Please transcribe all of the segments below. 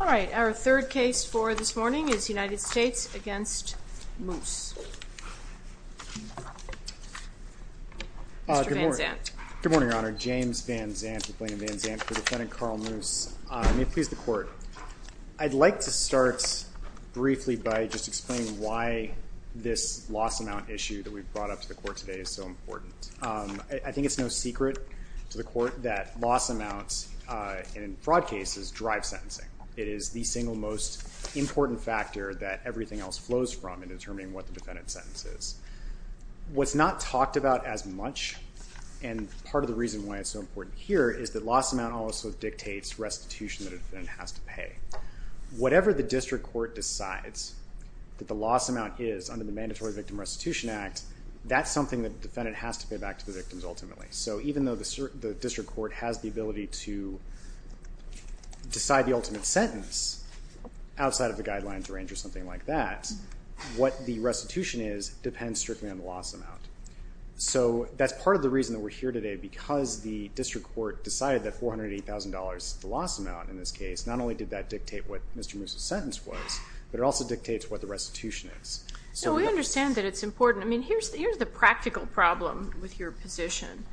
All right, our third case for this morning is United States v. Moose. Mr. Van Zandt. Good morning, Your Honor. James Van Zandt with Blaine & Van Zandt for Defendant Carl Moose. May it please the Court, I'd like to start briefly by just explaining why this loss amount issue that we've brought up to the Court today is so important. I think it's no secret to the Court that loss amounts in fraud cases drive sentencing. It is the single most important factor that everything else flows from in determining what the defendant's sentence is. What's not talked about as much, and part of the reason why it's so important here, is that loss amount also dictates restitution that a defendant has to pay. Whatever the district court decides that the loss amount is under the Mandatory Victim Restitution Act, that's something that the defendant has to pay back to the victims ultimately. So even though the district court has the ability to decide the ultimate sentence outside of the guidelines range or something like that, what the restitution is depends strictly on the loss amount. So that's part of the reason that we're here today, because the district court decided that $480,000 is the loss amount in this case. Not only did that dictate what Mr. Moose's sentence was, but it also dictates what the restitution is. We understand that it's important. Here's the practical problem with your position.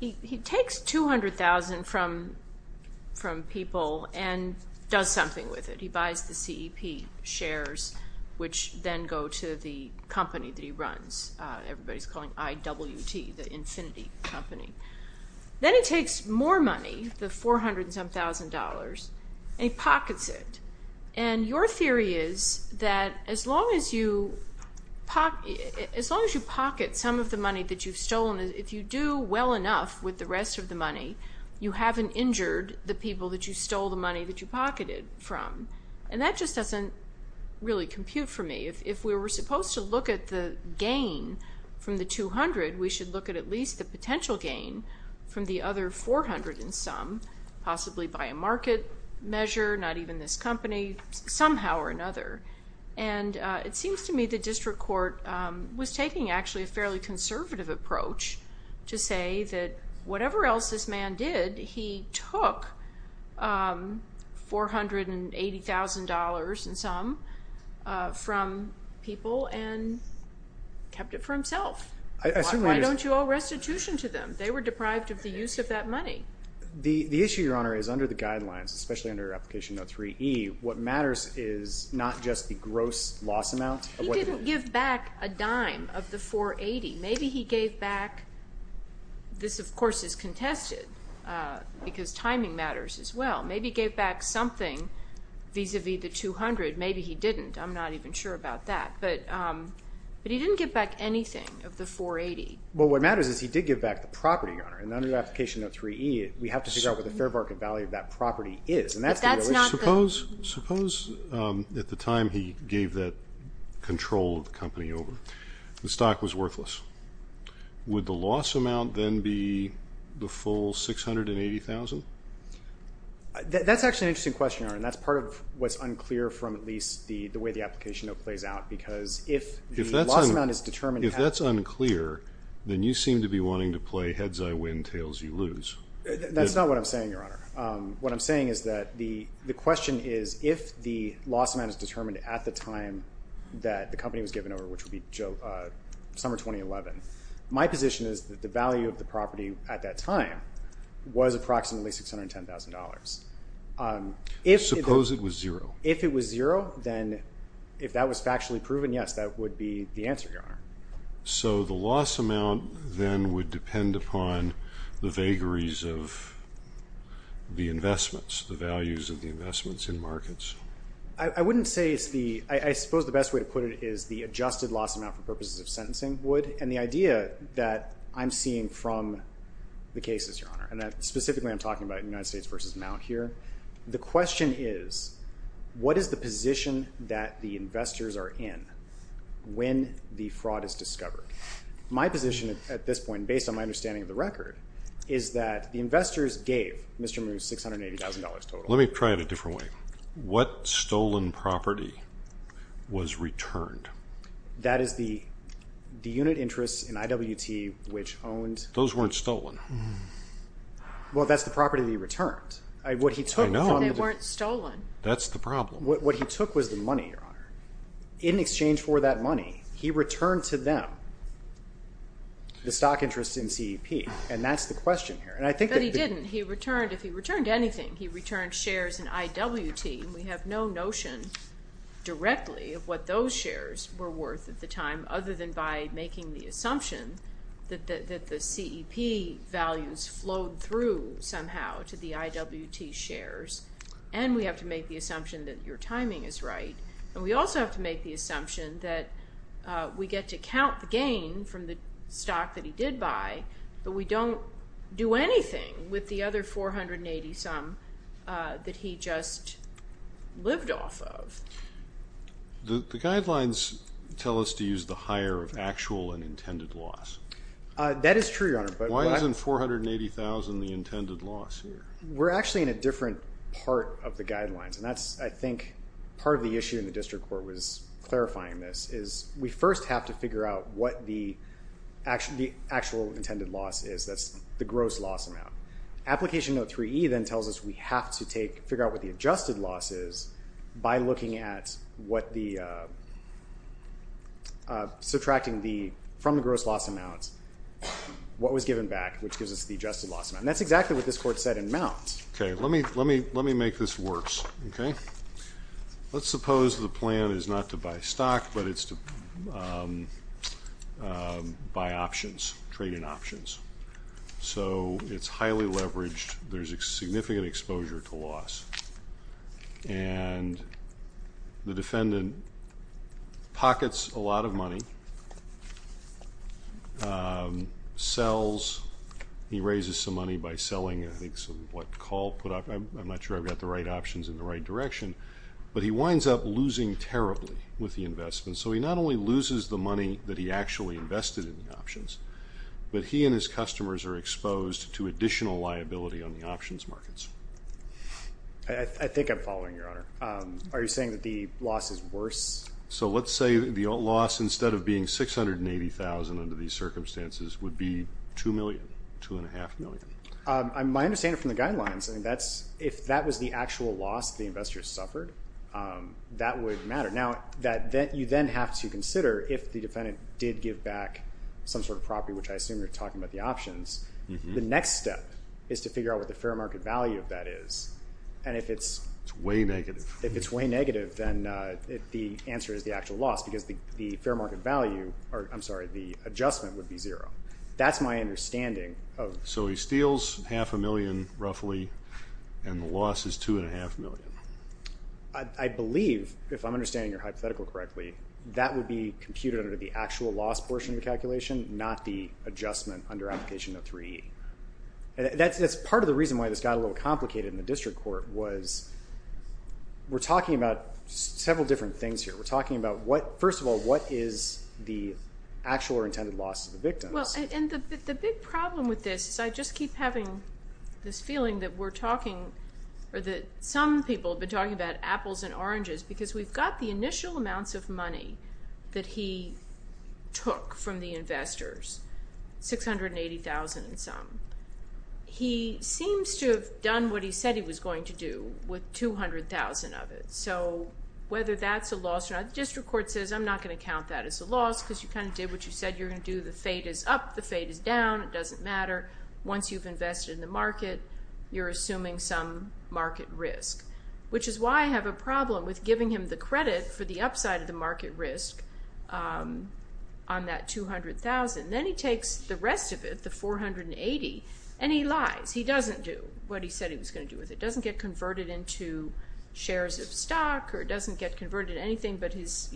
He takes $200,000 from people and does something with it. He buys the CEP shares, which then go to the company that he runs. Everybody's calling IWT, the Infinity Company. Then he takes more money, the $400,000, and he pockets it. Your theory is that as long as you pocket some of the money that you've stolen, if you do well enough with the rest of the money, you haven't injured the people that you stole the money that you pocketed from. That just doesn't really compute for me. If we were supposed to look at the gain from the $200,000, we should look at at least the potential gain from the other $400,000 and some, possibly by a market measure, not even this company, somehow or another. It seems to me the district court was taking actually a fairly conservative approach to say that whatever else this man did, he took $480,000 and some from people and kept it for himself. Why don't you owe restitution to them? They were deprived of the use of that money. The issue, Your Honor, is under the guidelines, especially under Application No. 3E, what matters is not just the gross loss amount. He didn't give back a dime of the $480,000. Maybe he gave back—this, of course, is contested because timing matters as well. Maybe he gave back something vis-à-vis the $200,000. Maybe he didn't. I'm not even sure about that. Well, what matters is he did give back the property, Your Honor, and under Application No. 3E, we have to figure out what the fair market value of that property is. But that's not the— Suppose at the time he gave that control of the company over, the stock was worthless. Would the loss amount then be the full $680,000? That's actually an interesting question, Your Honor, and that's part of what's unclear from at least the way the Application No. plays out, because if the loss amount is determined— If that's unclear, then you seem to be wanting to play heads-I-win, tails-you-lose. That's not what I'm saying, Your Honor. What I'm saying is that the question is if the loss amount is determined at the time that the company was given over, which would be summer 2011, my position is that the value of the property at that time was approximately $610,000. Suppose it was zero. If it was zero, then if that was factually proven, yes, that would be the answer, Your Honor. So the loss amount then would depend upon the vagaries of the investments, the values of the investments in markets? I wouldn't say it's the—I suppose the best way to put it is the adjusted loss amount for purposes of sentencing would, and the idea that I'm seeing from the cases, Your Honor, and that specifically I'm talking about United States v. Mount here, the question is what is the position that the investors are in when the fraud is discovered? My position at this point, based on my understanding of the record, is that the investors gave Mr. Moore $680,000 total. Let me try it a different way. What stolen property was returned? That is the unit interests in IWT which owned— Those weren't stolen. Well, that's the property that he returned. I know, but they weren't stolen. That's the problem. What he took was the money, Your Honor. In exchange for that money, he returned to them the stock interest in CEP, and that's the question here. But he didn't. If he returned anything, he returned shares in IWT, and we have no notion directly of what those shares were worth at the time, other than by making the assumption that the CEP values flowed through somehow to the IWT shares, and we have to make the assumption that your timing is right, and we also have to make the assumption that we get to count the gain from the stock that he did buy, but we don't do anything with the other $480 some that he just lived off of. The guidelines tell us to use the higher of actual and intended loss. That is true, Your Honor, but— Why isn't $480,000 the intended loss here? We're actually in a different part of the guidelines, and that's, I think, part of the issue in the district court was clarifying this, is we first have to figure out what the actual intended loss is. That's the gross loss amount. Application note 3E then tells us we have to figure out what the adjusted loss is by subtracting from the gross loss amount what was given back, which gives us the adjusted loss amount, and that's exactly what this court said in Mount. Let me make this worse. Let's suppose the plan is not to buy stock, but it's to buy options, trade-in options. So, it's highly leveraged. There's a significant exposure to loss, and the defendant pockets a lot of money, sells. He raises some money by selling, I think, what Call put up. I'm not sure I've got the right options in the right direction, but he winds up losing terribly with the investment. So, he not only loses the money that he actually invested in the options, but he and his customers are exposed to additional liability on the options markets. I think I'm following, Your Honor. Are you saying that the loss is worse? So, let's say the loss, instead of being $680,000 under these circumstances, would be $2 million, $2.5 million. My understanding from the guidelines, if that was the actual loss the investor suffered, that would matter. Now, you then have to consider, if the defendant did give back some sort of property, which I assume you're talking about the options, the next step is to figure out what the fair market value of that is. And if it's way negative, then the answer is the actual loss, because the adjustment would be zero. That's my understanding. So, he steals half a million, roughly, and the loss is $2.5 million. I believe, if I'm understanding your hypothetical correctly, that would be computed under the actual loss portion of the calculation, not the adjustment under application of 3E. That's part of the reason why this got a little complicated in the district court, was we're talking about several different things here. We're talking about, first of all, what is the actual or intended loss to the victims. Well, and the big problem with this is I just keep having this feeling that we're talking, or that some people have been talking about apples and oranges, because we've got the initial amounts of money that he took from the investors, $680,000 and some. He seems to have done what he said he was going to do with $200,000 of it. So, whether that's a loss or not, the district court says, I'm not going to count that as a loss, because you kind of did what you said you were going to do. The fate is up. The fate is down. It doesn't matter. Once you've invested in the market, you're assuming some market risk, which is why I have a problem with giving him the credit for the upside of the market risk on that $200,000. Then he takes the rest of it, the $480,000, and he lies. He doesn't do what he said he was going to do with it. It doesn't get converted into shares of stock, or it doesn't get converted into anything but his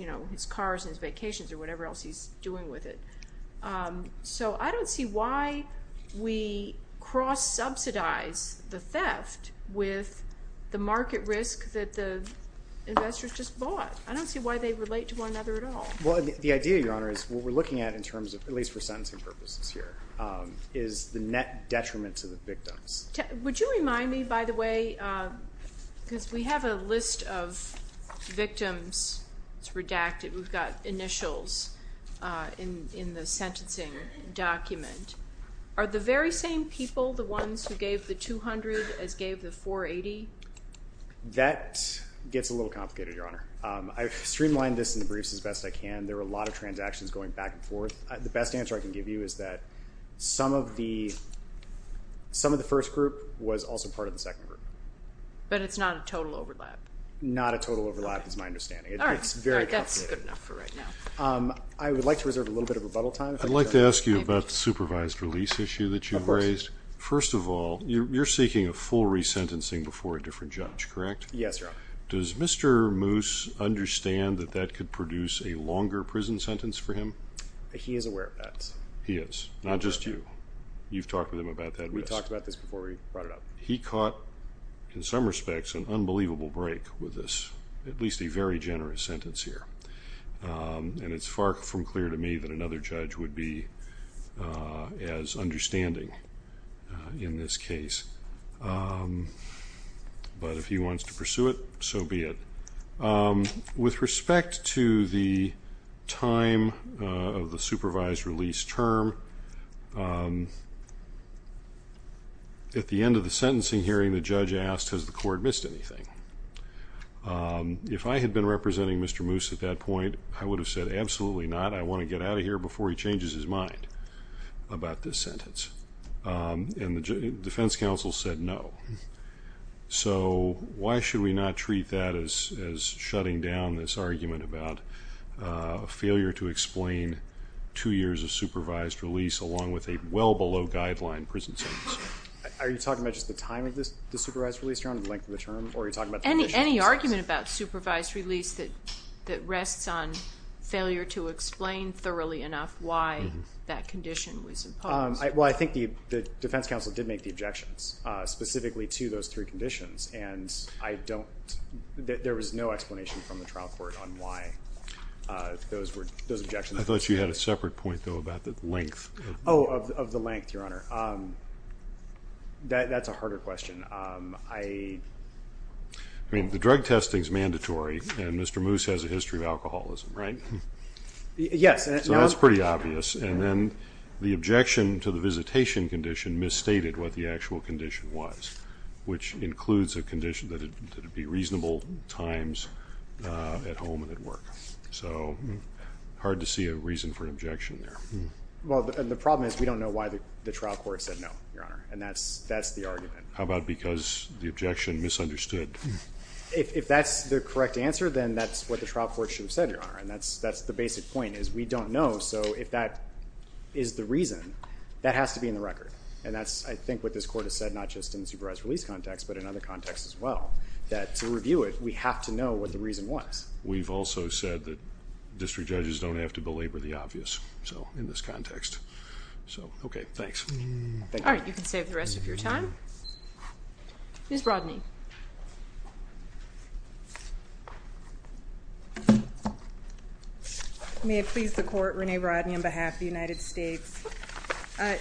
cars and his vacations, or whatever else he's doing with it. So, I don't see why we cross-subsidize the theft with the market risk that the investors just bought. I don't see why they relate to one another at all. Well, the idea, Your Honor, is what we're looking at in terms of, at least for sentencing purposes here, is the net detriment to the victims. Would you remind me, by the way, because we have a list of victims. It's redacted. We've got initials in the sentencing document. Are the very same people the ones who gave the $200,000 as gave the $480,000? That gets a little complicated, Your Honor. I've streamlined this in the briefs as best I can. There were a lot of transactions going back and forth. The best answer I can give you is that some of the first group was also part of the second group. But it's not a total overlap. Not a total overlap is my understanding. All right, that's good enough for right now. I would like to reserve a little bit of rebuttal time. I'd like to ask you about the supervised release issue that you've raised. Of course. First of all, you're seeking a full resentencing before a different judge, correct? Yes, Your Honor. Does Mr. Moose understand that that could produce a longer prison sentence for him? He is aware of that. He is, not just you. You've talked with him about that. We talked about this before we brought it up. He caught, in some respects, an unbelievable break with this, at least a very generous sentence here. And it's far from clear to me that another judge would be as understanding in this case. But if he wants to pursue it, so be it. With respect to the time of the supervised release term, at the end of the sentencing hearing, the judge asked, has the court missed anything? If I had been representing Mr. Moose at that point, I would have said, absolutely not. I want to get out of here before he changes his mind about this sentence. And the defense counsel said, no. So why should we not treat that as shutting down this argument about failure to explain two years of supervised release, along with a well-below-guideline prison sentence? Are you talking about just the time of the supervised release term or the length of the term? Any argument about supervised release that rests on failure to explain thoroughly enough why that condition was imposed? Well, I think the defense counsel did make the objections specifically to those three conditions, and there was no explanation from the trial court on why those objections were made. I thought you had a separate point, though, about the length. Oh, of the length, Your Honor. That's a harder question. I mean, the drug testing is mandatory, and Mr. Moose has a history of alcoholism, right? Yes. So that's pretty obvious. And then the objection to the visitation condition misstated what the actual condition was, which includes a condition that it be reasonable times at home and at work. So hard to see a reason for an objection there. Well, the problem is we don't know why the trial court said no, Your Honor, and that's the argument. How about because the objection misunderstood? If that's the correct answer, then that's what the trial court should have said, Your Honor, and that's the basic point is we don't know. So if that is the reason, that has to be in the record. And that's, I think, what this court has said, not just in the supervised release context, but in other contexts as well, that to review it, we have to know what the reason was. We've also said that district judges don't have to belabor the obvious in this context. So, okay, thanks. All right, you can save the rest of your time. Ms. Rodney. May it please the Court, Renee Rodney on behalf of the United States.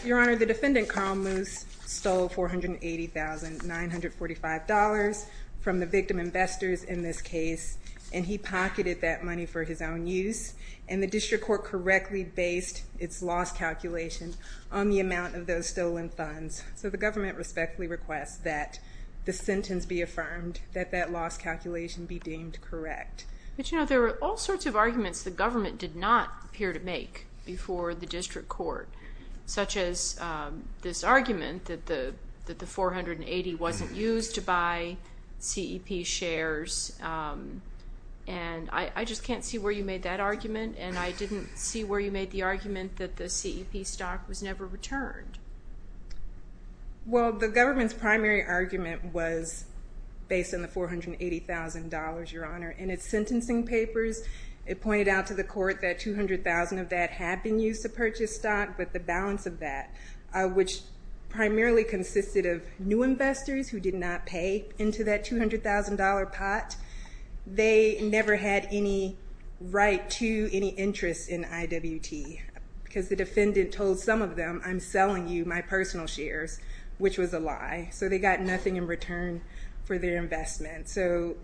Your Honor, the defendant, Carl Moose, stole $480,945 from the victim investors in this case, and he pocketed that money for his own use, and the district court correctly based its loss calculation on the amount of those stolen funds. So the government respectfully requests that the sentence be affirmed, that that loss calculation be deemed correct. But, you know, there are all sorts of arguments the government did not appear to make before the district court, such as this argument that the $480 wasn't used to buy CEP shares. And I just can't see where you made that argument, and I didn't see where you made the argument that the CEP stock was never returned. Well, the government's primary argument was based on the $480,000, Your Honor. In its sentencing papers, it pointed out to the court that $200,000 of that had been used to purchase stock, but the balance of that, which primarily consisted of new investors who did not pay into that $200,000 pot, they never had any right to any interest in IWT, because the defendant told some of them, I'm selling you my personal shares, which was a lie. So they got nothing in return for their investment. So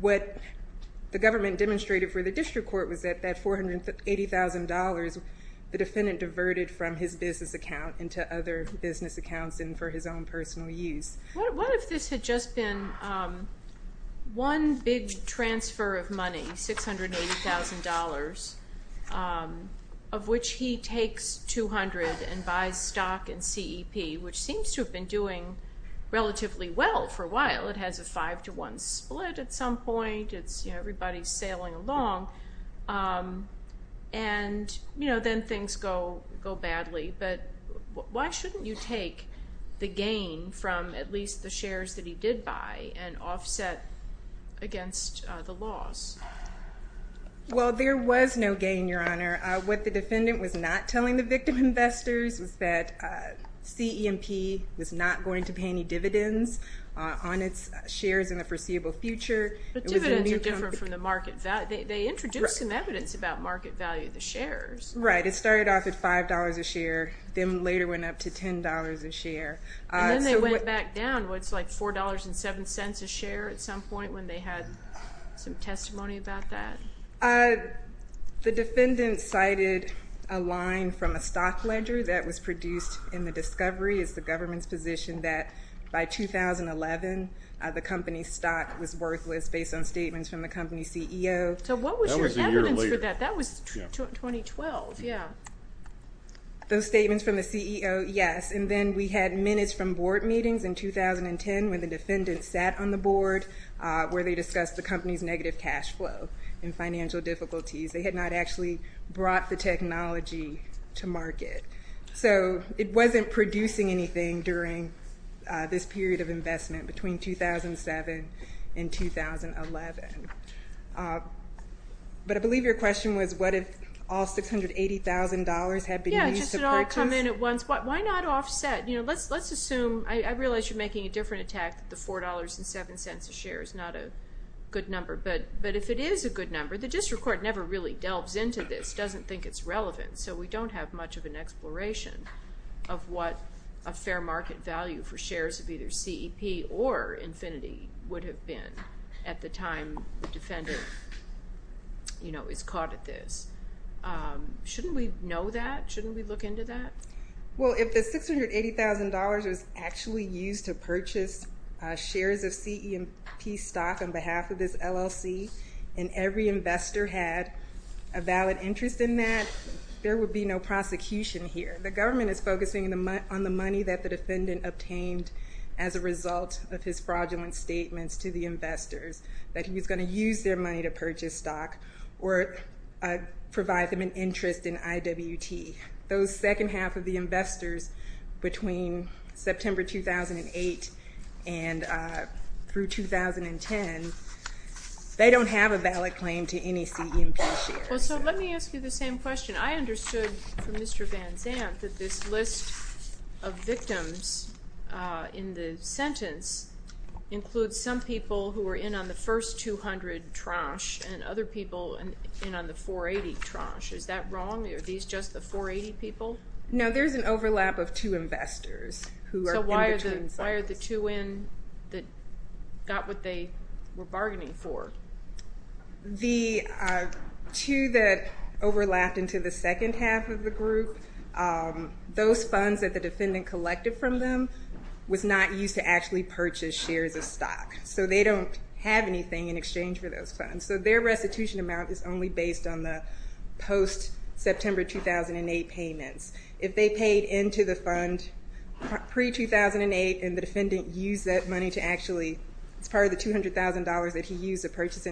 what the government demonstrated for the district court was that that $480,000, the defendant diverted from his business account into other business accounts and for his own personal use. What if this had just been one big transfer of money, $680,000, of which he takes $200,000 and buys stock in CEP, which seems to have been doing relatively well for a while. It has a five-to-one split at some point. Everybody's sailing along, and then things go badly. But why shouldn't you take the gain from at least the shares that he did buy and offset against the loss? Well, there was no gain, Your Honor. What the defendant was not telling the victim investors was that CEP was not going to pay any dividends on its shares in the foreseeable future. But dividends are different from the market value. They introduced some evidence about market value of the shares. Right. It started off at $5 a share, then later went up to $10 a share. And then they went back down. It's like $4.07 a share at some point when they had some testimony about that? The defendant cited a line from a stock ledger that was produced in the discovery. It's the government's position that by 2011, the company's stock was worthless based on statements from the company's CEO. So what was your evidence for that? That was a year later. That was 2012, yeah. Those statements from the CEO, yes. And then we had minutes from board meetings in 2010 when the defendant sat on the board where they discussed the company's negative cash flow and financial difficulties. They had not actually brought the technology to market. So it wasn't producing anything during this period of investment between 2007 and 2011. But I believe your question was what if all $680,000 had been used to purchase? Yeah, just it all come in at once. Why not offset? Let's assume, I realize you're making a different attack that the $4.07 a share is not a good number. But if it is a good number, the district court never really delves into this, doesn't think it's relevant. So we don't have much of an exploration of what a fair market value for shares of either CEP or Infinity would have been at the time the defendant, you know, is caught at this. Shouldn't we know that? Shouldn't we look into that? Well, if the $680,000 was actually used to purchase shares of CEP stock on behalf of this LLC and every investor had a valid interest in that, there would be no prosecution here. The government is focusing on the money that the defendant obtained as a result of his fraudulent statements to the investors that he was going to use their money to purchase stock or provide them an interest in IWT. Those second half of the investors between September 2008 and through 2010, they don't have a valid claim to any CEP shares. Well, so let me ask you the same question. I understood from Mr. Van Zandt that this list of victims in the sentence includes some people who were in on the first $200 trash and other people in on the $480 trash. Is that wrong? Are these just the $480 people? No, there's an overlap of two investors who are in between sentences. So why are the two in that got what they were bargaining for? The two that overlapped into the second half of the group, those funds that the defendant collected from them was not used to actually purchase shares of stock. So they don't have anything in exchange for those funds. So their restitution amount is only based on the post-September 2008 payments. If they paid into the fund pre-2008 and the defendant used that money to actually, it's part of the $200,000 that he used to purchase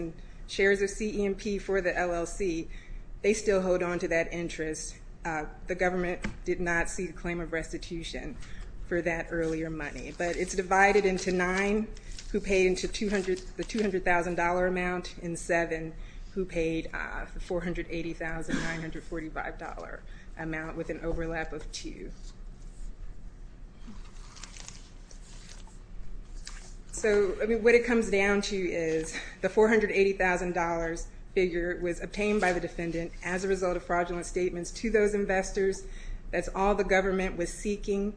shares of CEMP for the LLC, they still hold on to that interest. The government did not see the claim of restitution for that earlier money. But it's divided into nine who paid into the $200,000 amount and seven who paid the $480,945 amount with an overlap of two. So what it comes down to is the $480,000 figure was obtained by the defendant as a result of fraudulent statements to those investors. That's all the government was seeking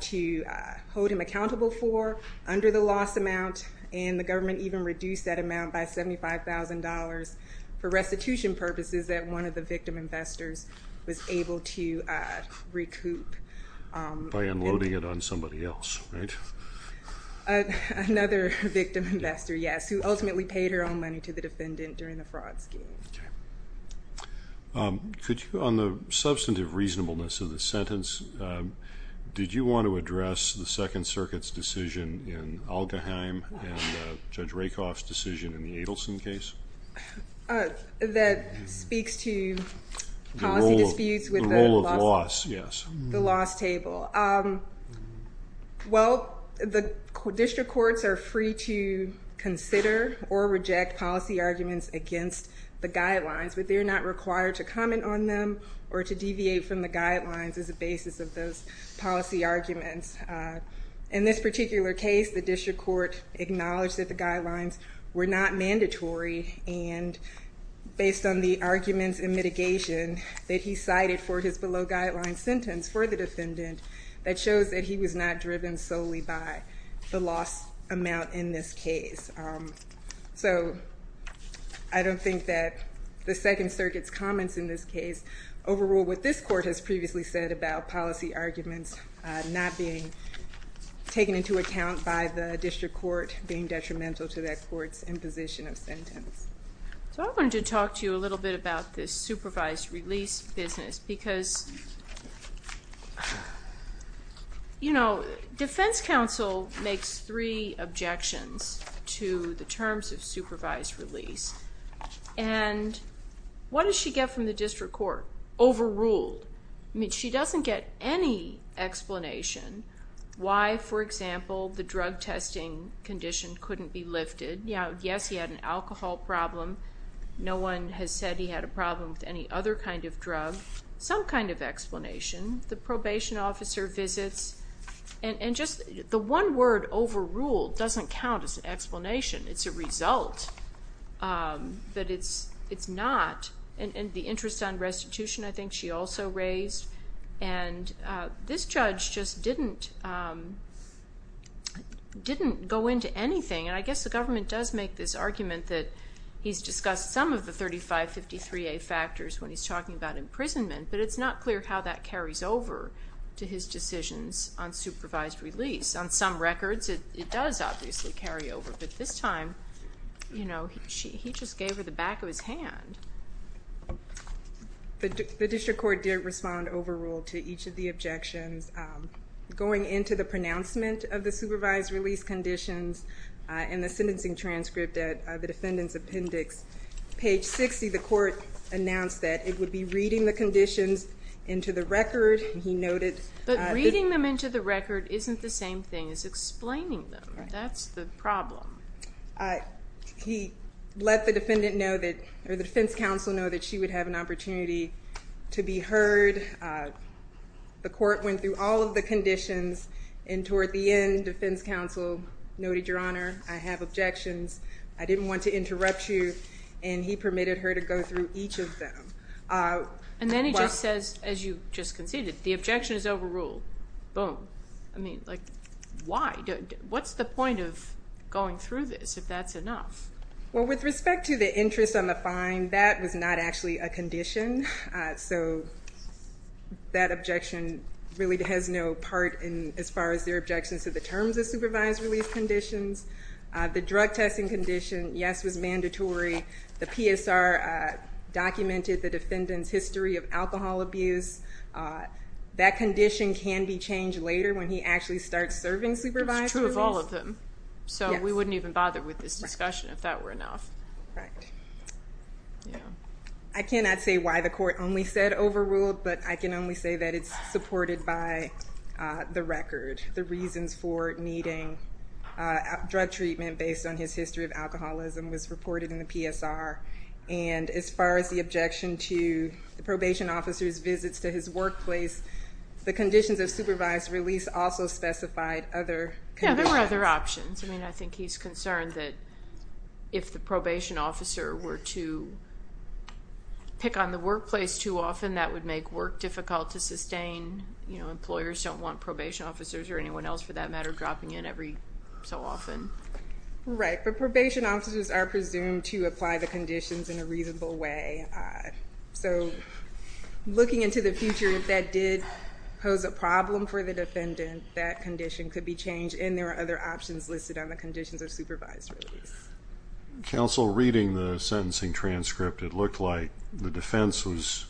to hold him accountable for under the loss amount, and the government even reduced that amount by $75,000 for restitution purposes that one of the victim investors was able to recoup. By unloading it on somebody else, right? Another victim investor, yes, who ultimately paid her own money to the defendant during the fraud scheme. On the substantive reasonableness of the sentence, did you want to address the Second Circuit's decision in Algaheim and Judge Rakoff's decision in the Adelson case? That speaks to policy disputes with the loss table. Well, the district courts are free to consider or reject policy arguments against the guidelines, but they're not required to comment on them or to deviate from the guidelines as a basis of those policy arguments. In this particular case, the district court acknowledged that the guidelines were not mandatory, and based on the arguments and mitigation that he cited for his below-guidelines sentence for the defendant, that shows that he was not driven solely by the loss amount in this case. So I don't think that the Second Circuit's comments in this case overrule what this court has previously said about policy arguments not being taken into account by the district court being detrimental to that court's imposition of sentence. So I wanted to talk to you a little bit about this supervised release business because, you know, defense counsel makes three objections to the terms of supervised release. And what does she get from the district court? Overruled. I mean, she doesn't get any explanation why, for example, the drug testing condition couldn't be lifted. Yes, he had an alcohol problem. No one has said he had a problem with any other kind of drug. Some kind of explanation. The probation officer visits. And just the one word, overruled, doesn't count as an explanation. It's a result, but it's not. And the interest on restitution, I think, she also raised. And this judge just didn't go into anything. And I guess the government does make this argument that he's discussed some of the 3553A factors when he's talking about imprisonment, but it's not clear how that carries over to his decisions on supervised release. On some records, it does obviously carry over. But this time, you know, he just gave her the back of his hand. The district court did respond overruled to each of the objections. Going into the pronouncement of the supervised release conditions and the sentencing transcript at the defendant's appendix, page 60, the court announced that it would be reading the conditions into the record. But reading them into the record isn't the same thing as explaining them. That's the problem. He let the defense counsel know that she would have an opportunity to be heard. The court went through all of the conditions. And toward the end, defense counsel noted, Your Honor, I have objections. I didn't want to interrupt you. And he permitted her to go through each of them. And then he just says, as you just conceded, the objection is overruled. Boom. I mean, like, why? What's the point of going through this if that's enough? Well, with respect to the interest on the fine, that was not actually a condition. So that objection really has no part as far as their objections to the terms of supervised release conditions. The drug testing condition, yes, was mandatory. The PSR documented the defendant's history of alcohol abuse. That condition can be changed later when he actually starts serving supervised release. It's true of all of them. So we wouldn't even bother with this discussion if that were enough. Right. I cannot say why the court only said overruled, but I can only say that it's supported by the record. The reasons for needing drug treatment based on his history of alcoholism was reported in the PSR. And as far as the objection to the probation officer's visits to his workplace, the conditions of supervised release also specified other conditions. Yeah, there were other options. I mean, I think he's concerned that if the probation officer were to pick on the workplace too often, that would make work difficult to sustain. You know, employers don't want probation officers or anyone else, for that matter, dropping in every so often. Right, but probation officers are presumed to apply the conditions in a reasonable way. So looking into the future, if that did pose a problem for the defendant, that condition could be changed, and there are other options listed on the conditions of supervised release. Counsel, reading the sentencing transcript, it looked like the defense was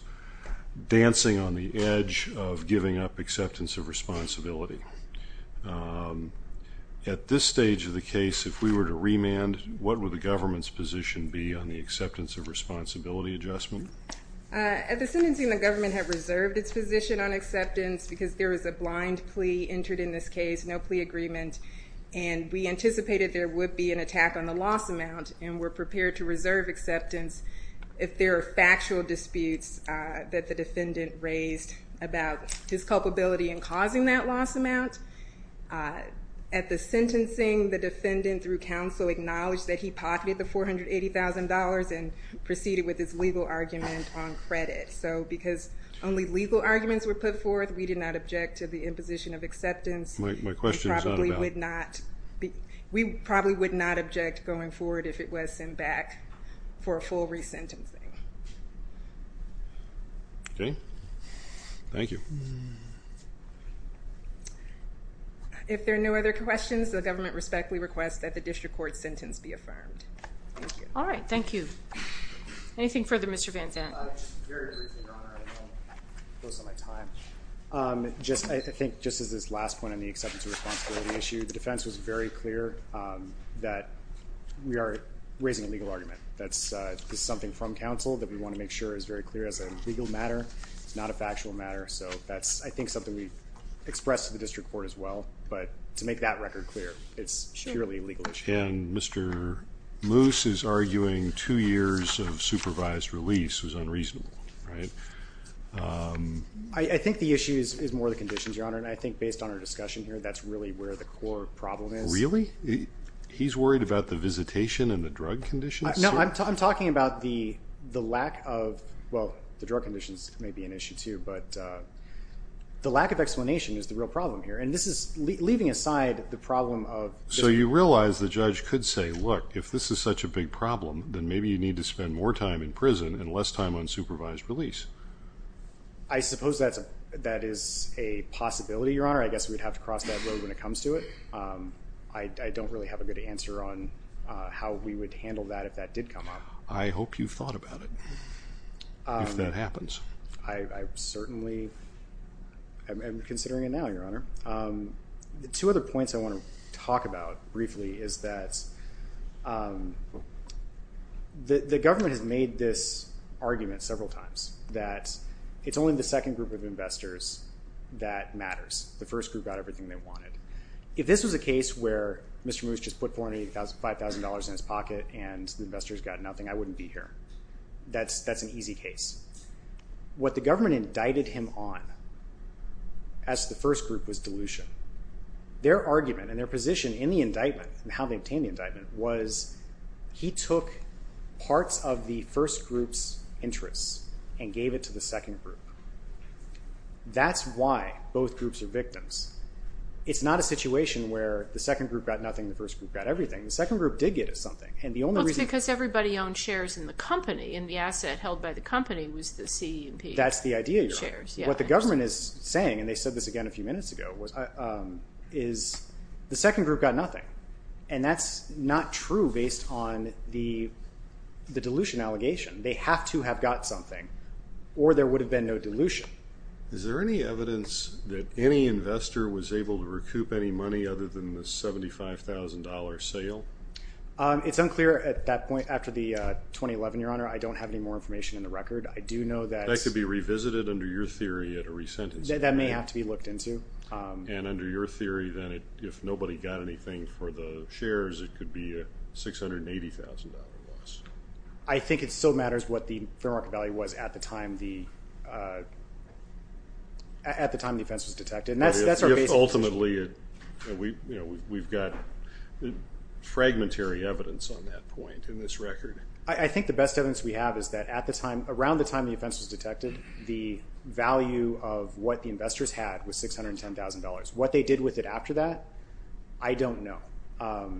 dancing on the edge of giving up acceptance of responsibility. At this stage of the case, if we were to remand, what would the government's position be on the acceptance of responsibility adjustment? At the sentencing, the government had reserved its position on acceptance because there was a blind plea entered in this case, no plea agreement, and we anticipated there would be an attack on the loss amount and were prepared to reserve acceptance if there are factual disputes that the defendant raised about his culpability in causing that loss amount. At the sentencing, the defendant, through counsel, acknowledged that he pocketed the $480,000 and proceeded with his legal argument on credit. So because only legal arguments were put forth, we did not object to the imposition of acceptance. We probably would not object going forward if it was sent back for a full resentencing. Okay. Thank you. If there are no other questions, the government respectfully requests that the district court sentence be affirmed. All right. Thank you. Anything further, Mr. Van Zandt? Just very briefly, Your Honor, I don't want to waste my time. I think just as this last point on the acceptance of responsibility issue, the defense was very clear that we are raising a legal argument. That's something from counsel that we want to make sure is very clear as a legal matter. It's not a factual matter, so that's, I think, something we've expressed to the district court as well. But to make that record clear, it's purely a legal issue. And Mr. Moose is arguing two years of supervised release was unreasonable, right? I think the issue is more the conditions, Your Honor. And I think based on our discussion here, that's really where the core problem is. Really? He's worried about the visitation and the drug conditions? No, I'm talking about the lack of, well, the drug conditions may be an issue too, but the lack of explanation is the real problem here. And this is leaving aside the problem of So you realize the judge could say, look, if this is such a big problem, then maybe you need to spend more time in prison and less time on supervised release. I suppose that is a possibility, Your Honor. I guess we'd have to cross that road when it comes to it. I don't really have a good answer on how we would handle that if that did come up. I hope you've thought about it, if that happens. I certainly am considering it now, Your Honor. Two other points I want to talk about briefly is that the government has made this argument several times, that it's only the second group of investors that matters. The first group got everything they wanted. If this was a case where Mr. Moose just put $485,000 in his pocket and the investors got nothing, I wouldn't be here. That's an easy case. What the government indicted him on as the first group was dilution. Their argument and their position in the indictment and how they obtained the indictment was he took parts of the first group's interests and gave it to the second group. That's why both groups are victims. It's not a situation where the second group got nothing and the first group got everything. The second group did get something. That's because everybody owned shares in the company, and the asset held by the company was the C&P shares. That's the idea, Your Honor. What the government is saying, and they said this again a few minutes ago, is the second group got nothing. That's not true based on the dilution allegation. They have to have got something or there would have been no dilution. Is there any evidence that any investor was able to recoup any money other than the $75,000 sale? It's unclear at that point after the 2011, Your Honor. I don't have any more information in the record. That could be revisited under your theory at a resentencing. That may have to be looked into. And under your theory, then if nobody got anything for the shares, it could be a $680,000 loss. I think it still matters what the fair market value was at the time the offense was detected. Ultimately, we've got fragmentary evidence on that point in this record. I think the best evidence we have is that around the time the offense was detected, the value of what the investors had was $610,000. What they did with it after that, I don't know. Well,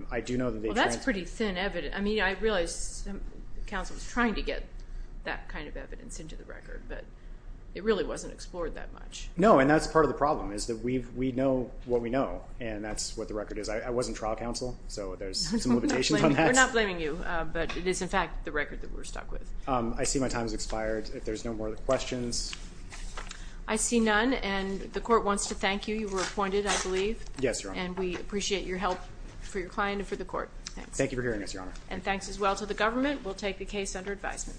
that's pretty thin evidence. I mean, I realize counsel was trying to get that kind of evidence into the record, but it really wasn't explored that much. No, and that's part of the problem is that we know what we know, and that's what the record is. I wasn't trial counsel, so there's some limitations on that. We're not blaming you, but it is, in fact, the record that we're stuck with. I see my time has expired. If there's no more questions. I see none, and the court wants to thank you. You were appointed, I believe. Yes, Your Honor. And we appreciate your help for your client and for the court. Thank you for hearing us, Your Honor. And thanks as well to the government. We'll take the case under advisement.